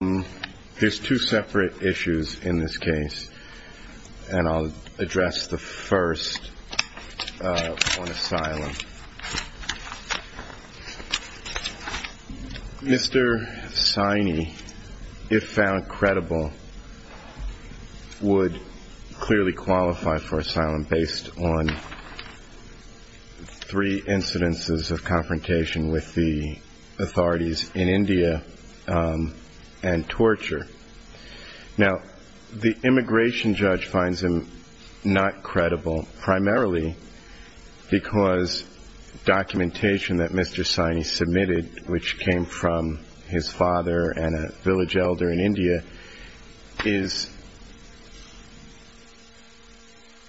Mr. Saini, if found credible, would clearly qualify for asylum based on three incidences of confrontation with the authorities in India and torture. Now, the immigration judge finds him not credible, primarily because documentation that Mr. Saini submitted, which came from his father and a village elder in India,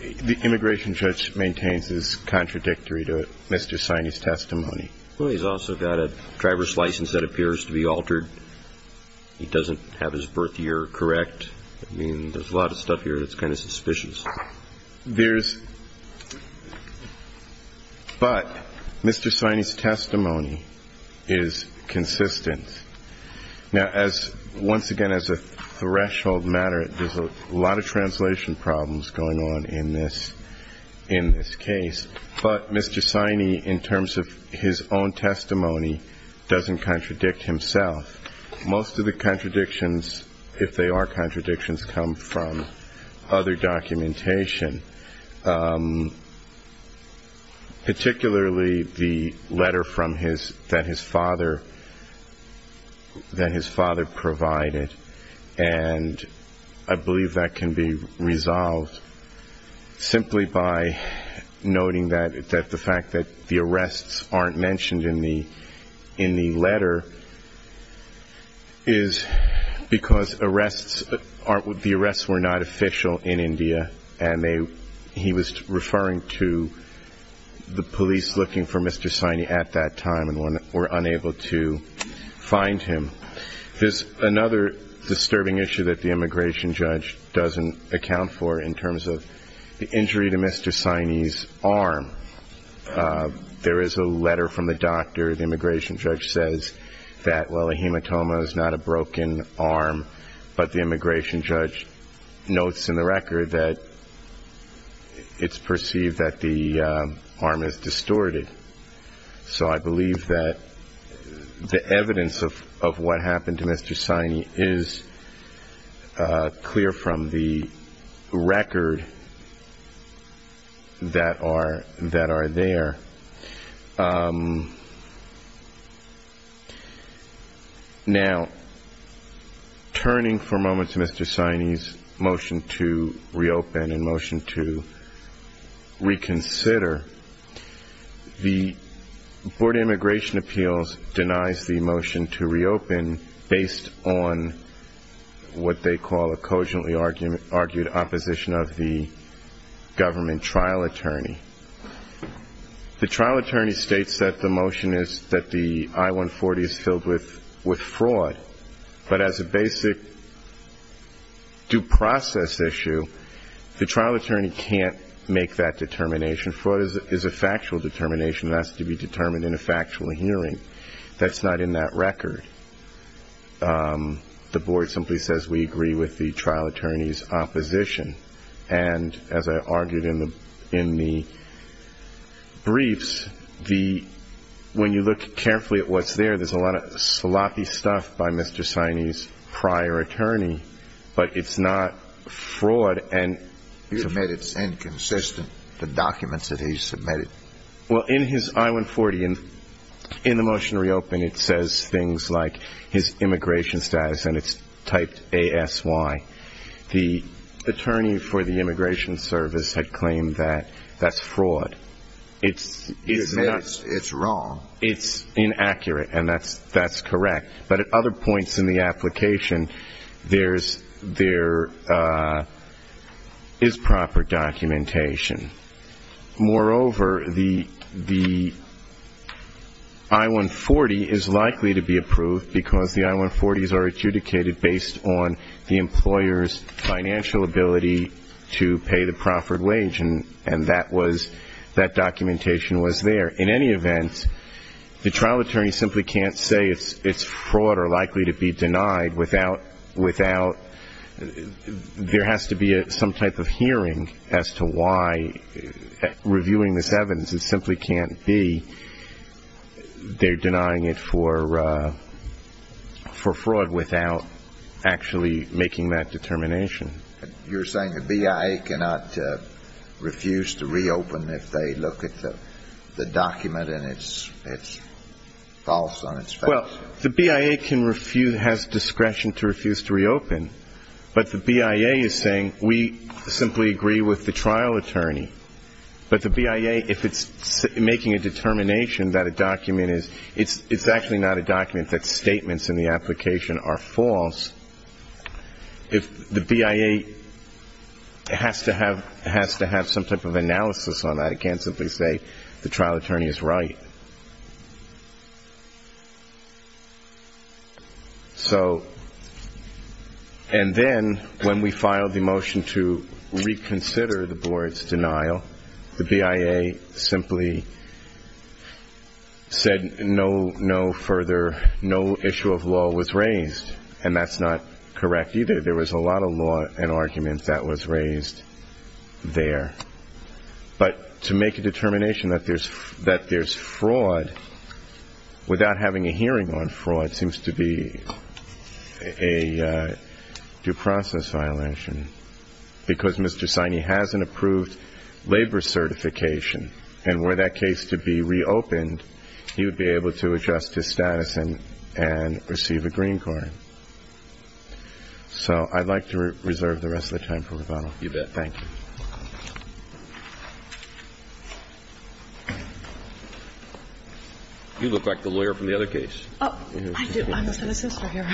the immigration judge maintains is contradictory to Mr. Saini's testimony. But Mr. Saini's testimony is consistent. Now, once again, as a threshold matter, there's Mr. Saini, in terms of his own testimony, doesn't contradict himself. Most of the contradictions, if they are contradictions, come from other documentation, particularly the letter that his father provided. And I believe that can be resolved simply by noting that the fact that the arrests aren't mentioned in the letter is because the arrests were not official in India, and therefore unable to find him. There's another disturbing issue that the immigration judge doesn't account for in terms of the injury to Mr. Saini's arm. There is a letter from the doctor. The immigration judge says that, well, a hematoma is not a broken arm, but the immigration judge notes in the record that it's perceived that the arm is distorted. So I believe that the evidence of what happened to Mr. Saini is clear from the record that are there. Now, turning for a moment to Mr. Saini's motion to reopen and motion to reconsider, the Board of Immigration Appeals denies the motion to reopen based on what they call a The trial attorney states that the motion is that the I-140 is filled with fraud. But as a basic due process issue, the trial attorney can't make that determination. Fraud is a factual determination that has to be determined in a factual hearing. That's not in that record. The board simply says we agree with the trial attorney's opposition. And as I argued in the briefs, the when you look carefully at what's there, there's a lot of sloppy stuff by Mr. Saini's prior attorney. But it's not fraud. And you admit it's inconsistent, the documents that he submitted. Well, in his I-140 and in the motion to reopen, it says things like his immigration status and it's typed A-S-Y. The attorney for the Immigration Service had claimed that that's fraud. It's wrong. It's inaccurate. And that's correct. But at other points in the application, there is proper documentation. Moreover, the I-140 is likely to be approved because the I-140s are adjudicated based on the employer's financial ability to pay the proffered wage. And that was that documentation was there. In any event, the trial attorney simply can't say it's fraud or likely to be denied without there has to be some type of hearing as to why reviewing this evidence, it simply can't be they're You're saying the BIA cannot refuse to reopen if they look at the document and it's false on its face? Well, the BIA has discretion to refuse to reopen. But the BIA is saying we simply agree with the trial attorney. But the BIA, if it's making a determination that a document is, it's actually not a document, that statements in the application are false. If the BIA has to have some type of analysis on that, it can't simply say the trial attorney is right. So and then when we filed the motion to reconsider the board's denial, the BIA simply said no, no further, no issue of law was raised. And that's not correct either. There was a lot of law and arguments that was raised there. But to make a determination that there's that there's fraud without having a hearing on fraud seems to be a due process violation. Because Mr. Siney has an approved labor certification. And were that case to be reopened, he would be able to adjust his status and and receive a green card. So I'd like to reserve the rest of the time for rebuttal. You bet. Thank you. You look like the lawyer from the other case. Oh, I do. I must have a sister here.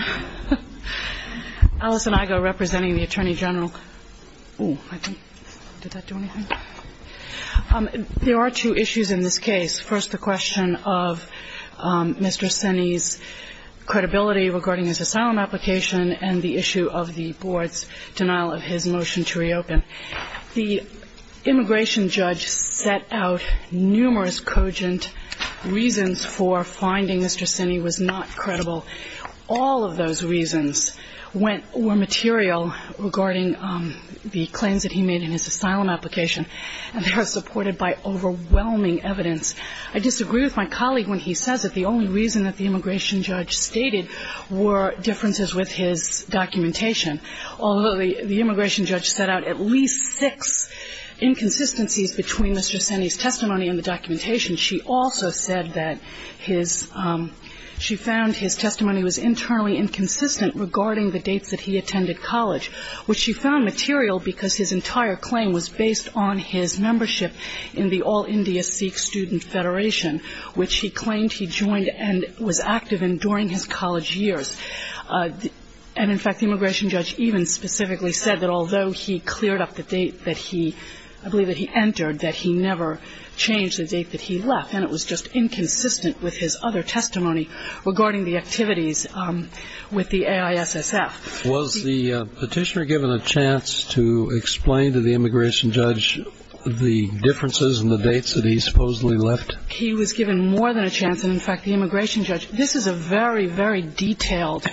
Allison Igoe representing the Attorney General. Oh, I didn't. Did that do anything? There are two issues in this case. First, the question of Mr. Siney's credibility regarding his asylum application and the issue of the board's denial of his motion to reopen. The immigration judge set out numerous cogent reasons for finding Mr. Siney was not credible. All of those reasons went or material regarding the claims that he made in his asylum application. And they were supported by overwhelming evidence. I disagree with my colleague when he says that the only reason that the immigration judge stated were differences with his documentation. Although the immigration judge set out at least six inconsistencies between Mr. Siney's testimony and the documentation, she also said that his – she found his testimony was internally inconsistent regarding the dates that he attended college, which she found material because his entire claim was based on his membership in the All-India Sikh Student Federation, which he claimed he joined and was active in during his college years. And in fact, the immigration judge even specifically said that although he cleared up the date that he – I believe that he entered, that he never changed the date that he left. And it was just inconsistent with his other testimony regarding the activities with the AISSF. Was the petitioner given a chance to explain to the immigration judge the differences and the dates that he supposedly left? He was given more than a chance. And in fact, the immigration judge – this is a very, very detailed,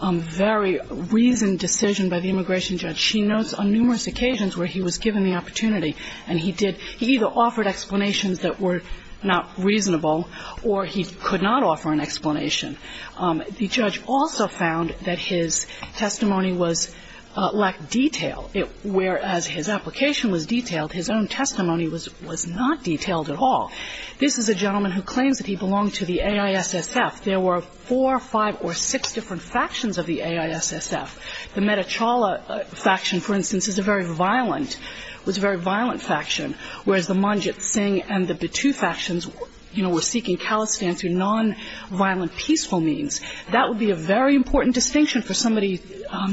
very reasoned decision by the immigration judge. She notes on numerous occasions where he was given the opportunity, and he did – he either offered explanations that were not reasonable or he could not offer an explanation. The judge also found that his testimony was – lacked detail. Whereas his application was detailed, his own testimony was – was not detailed at all. This is a gentleman who claims that he belonged to the AISSF. There were four, five, or six different factions of the AISSF. The Metta Chawla faction, for instance, is a very violent – was a very violent faction, whereas the Manjit Singh and the Batu factions, you know, were seeking calisthenics through nonviolent peaceful means. That would be a very important distinction for somebody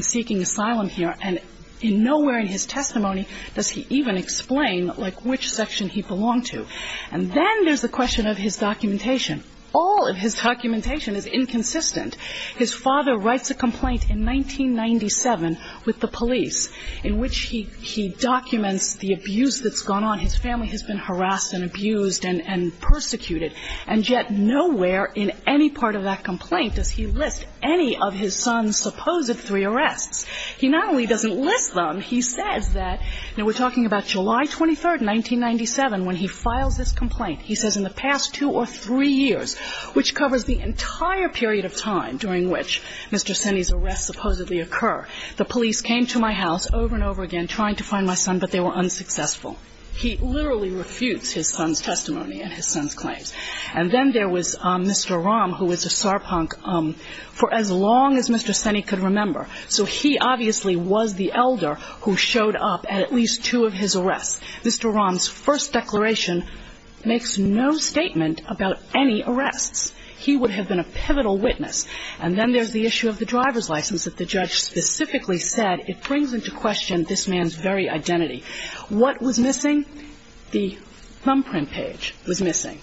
seeking asylum here. And in nowhere in his testimony does he even explain, like, which section he belonged to. And then there's the question of his documentation. All of his documentation is inconsistent. His father writes a complaint in 1997 with the police in which he – he documents the abuse that's gone on. His family has been harassed and abused and – and persecuted. And yet nowhere in any part of that complaint does he list any of his son's supposed three arrests. He not only doesn't list them, he says that – now, we're this complaint. He says, in the past two or three years, which covers the entire period of time during which Mr. Seney's arrests supposedly occur, the police came to my house over and over again trying to find my son, but they were unsuccessful. He literally refutes his son's testimony and his son's claims. And then there was Mr. Rahm, who was a sarpunk for as long as Mr. Seney could remember. So he obviously was the elder who showed up at least two of his arrests. Mr. Rahm's first declaration makes no statement about any arrests. He would have been a pivotal witness. And then there's the issue of the driver's license that the judge specifically said it brings into question this man's very identity. What was missing? The thumbprint page was missing.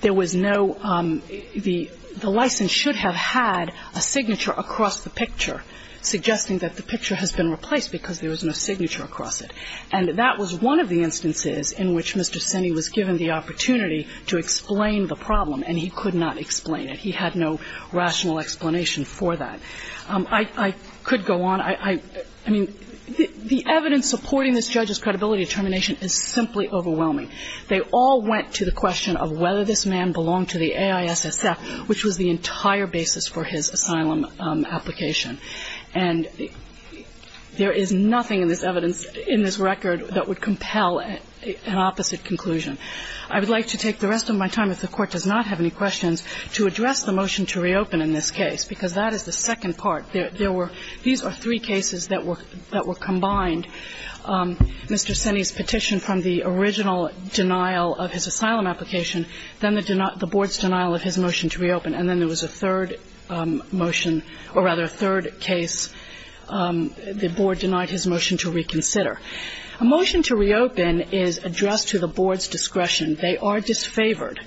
There was no – the – the license should have had a signature across the picture, suggesting that the picture has been replaced because there was no signature across it. And that was one of the instances in which Mr. Seney was given the opportunity to explain the problem, and he could not explain it. He had no rational explanation for that. I could go on. I mean, the evidence supporting this judge's credibility determination is simply overwhelming. They all went to the question of whether this man belonged to the AISSF, which was the entire basis for his asylum application. And there is no – there is nothing in this evidence, in this record, that would compel an opposite conclusion. I would like to take the rest of my time, if the Court does not have any questions, to address the motion to reopen in this case, because that is the second part. There were – these are three cases that were – that were combined. Mr. Seney's petition from the original denial of his asylum application, then the denial – the board's denial of his motion to reopen, and then there was a third motion – or, rather, a third case. The board denied his motion to reconsider. A motion to reopen is addressed to the board's discretion. They are disfavored.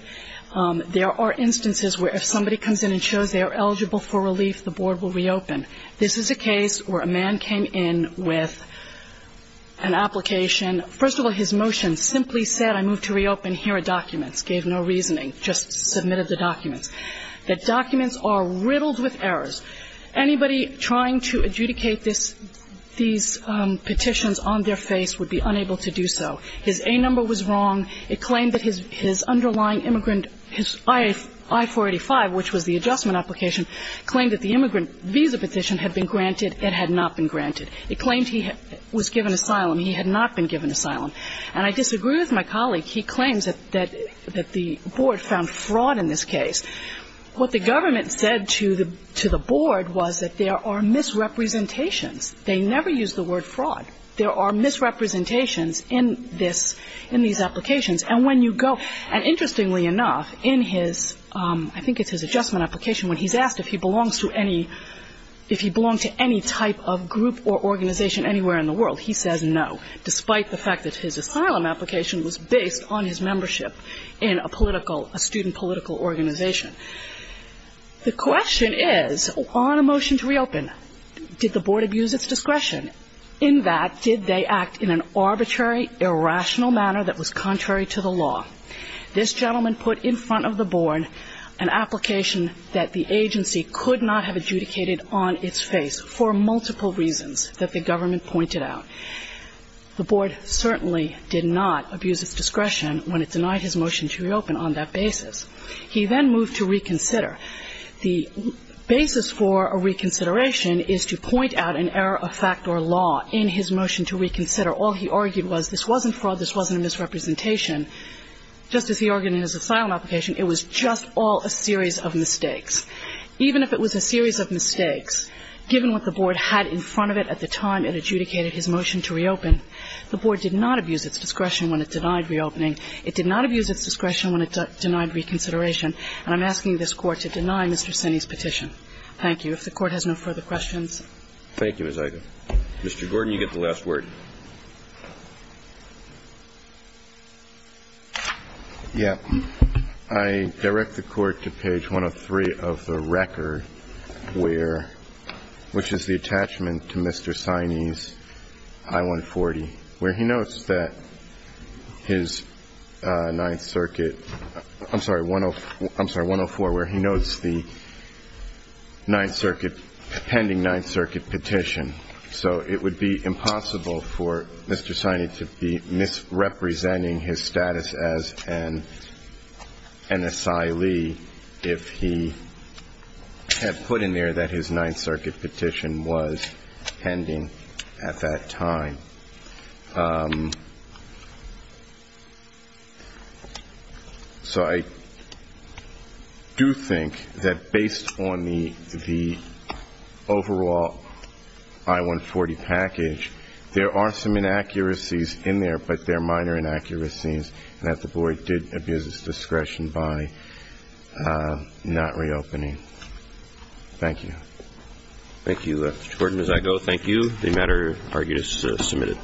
There are instances where if somebody comes in and shows they are eligible for relief, the board will reopen. This is a case where a man came in with an application – first of all, his motion simply said, I move to reopen. Here are documents. gave no reasoning, just submitted the documents. The documents are riddled with errors. Anybody trying to adjudicate this – these petitions on their face would be unable to do so. His A number was wrong. It claimed that his – his underlying immigrant – his I-485, which was the adjustment application, claimed that the immigrant visa petition had been granted. It had not been granted. It claimed he was given asylum. He had not been given asylum. And I disagree with my colleague. He claims that – that the board found fraud in this case. What the government said to the – to the board was that there are misrepresentations. They never use the word fraud. There are misrepresentations in this – in these applications. And when you go – and interestingly enough, in his – I think it's his adjustment application when he's asked if he belongs to any – if he belonged to any type of group or organization anywhere in the world, he says no, despite the fact that his asylum application was based on his membership in a political – a student political organization. The question is, on a motion to reopen, did the board abuse its discretion? In that, did they act in an arbitrary, irrational manner that was contrary to the law? This gentleman put in front of the board an application that the agency could not have adjudicated on its face for multiple reasons that the government pointed out. The board certainly did not abuse its discretion when it denied his motion to reopen on that basis. He then moved to reconsider. The basis for a reconsideration is to point out an error of fact or law in his motion to reconsider. All he argued was this wasn't fraud, this wasn't a misrepresentation. Just as he argued in his asylum application, it was just all a series of mistakes. Even if it was a series of mistakes, given what the board had in front of it at the time of his motion to reopen, the board did not abuse its discretion when it denied reopening. It did not abuse its discretion when it denied reconsideration. And I'm asking this Court to deny Mr. Sinney's petition. Thank you. If the Court has no further questions. Thank you, Ms. Ido. Mr. Gordon, you get the last word. Yeah. I direct the Court to page 103 of the record, where – which is the attachment to Mr. Sinney's I-140, where he notes that his Ninth Circuit – I'm sorry, 104, where he notes the Ninth Circuit – pending Ninth Circuit petition. So it would be impossible for Mr. Sinney to be misrepresenting his status as an asylee if he had put in there that his status was pending at that time. So I do think that based on the overall I-140 package, there are some inaccuracies in there, but they're minor inaccuracies, and that the board did abuse its discretion by not reopening. Thank you. Thank you, Mr. Gordon. Ms. Ido, thank you. The matter argued is submitted.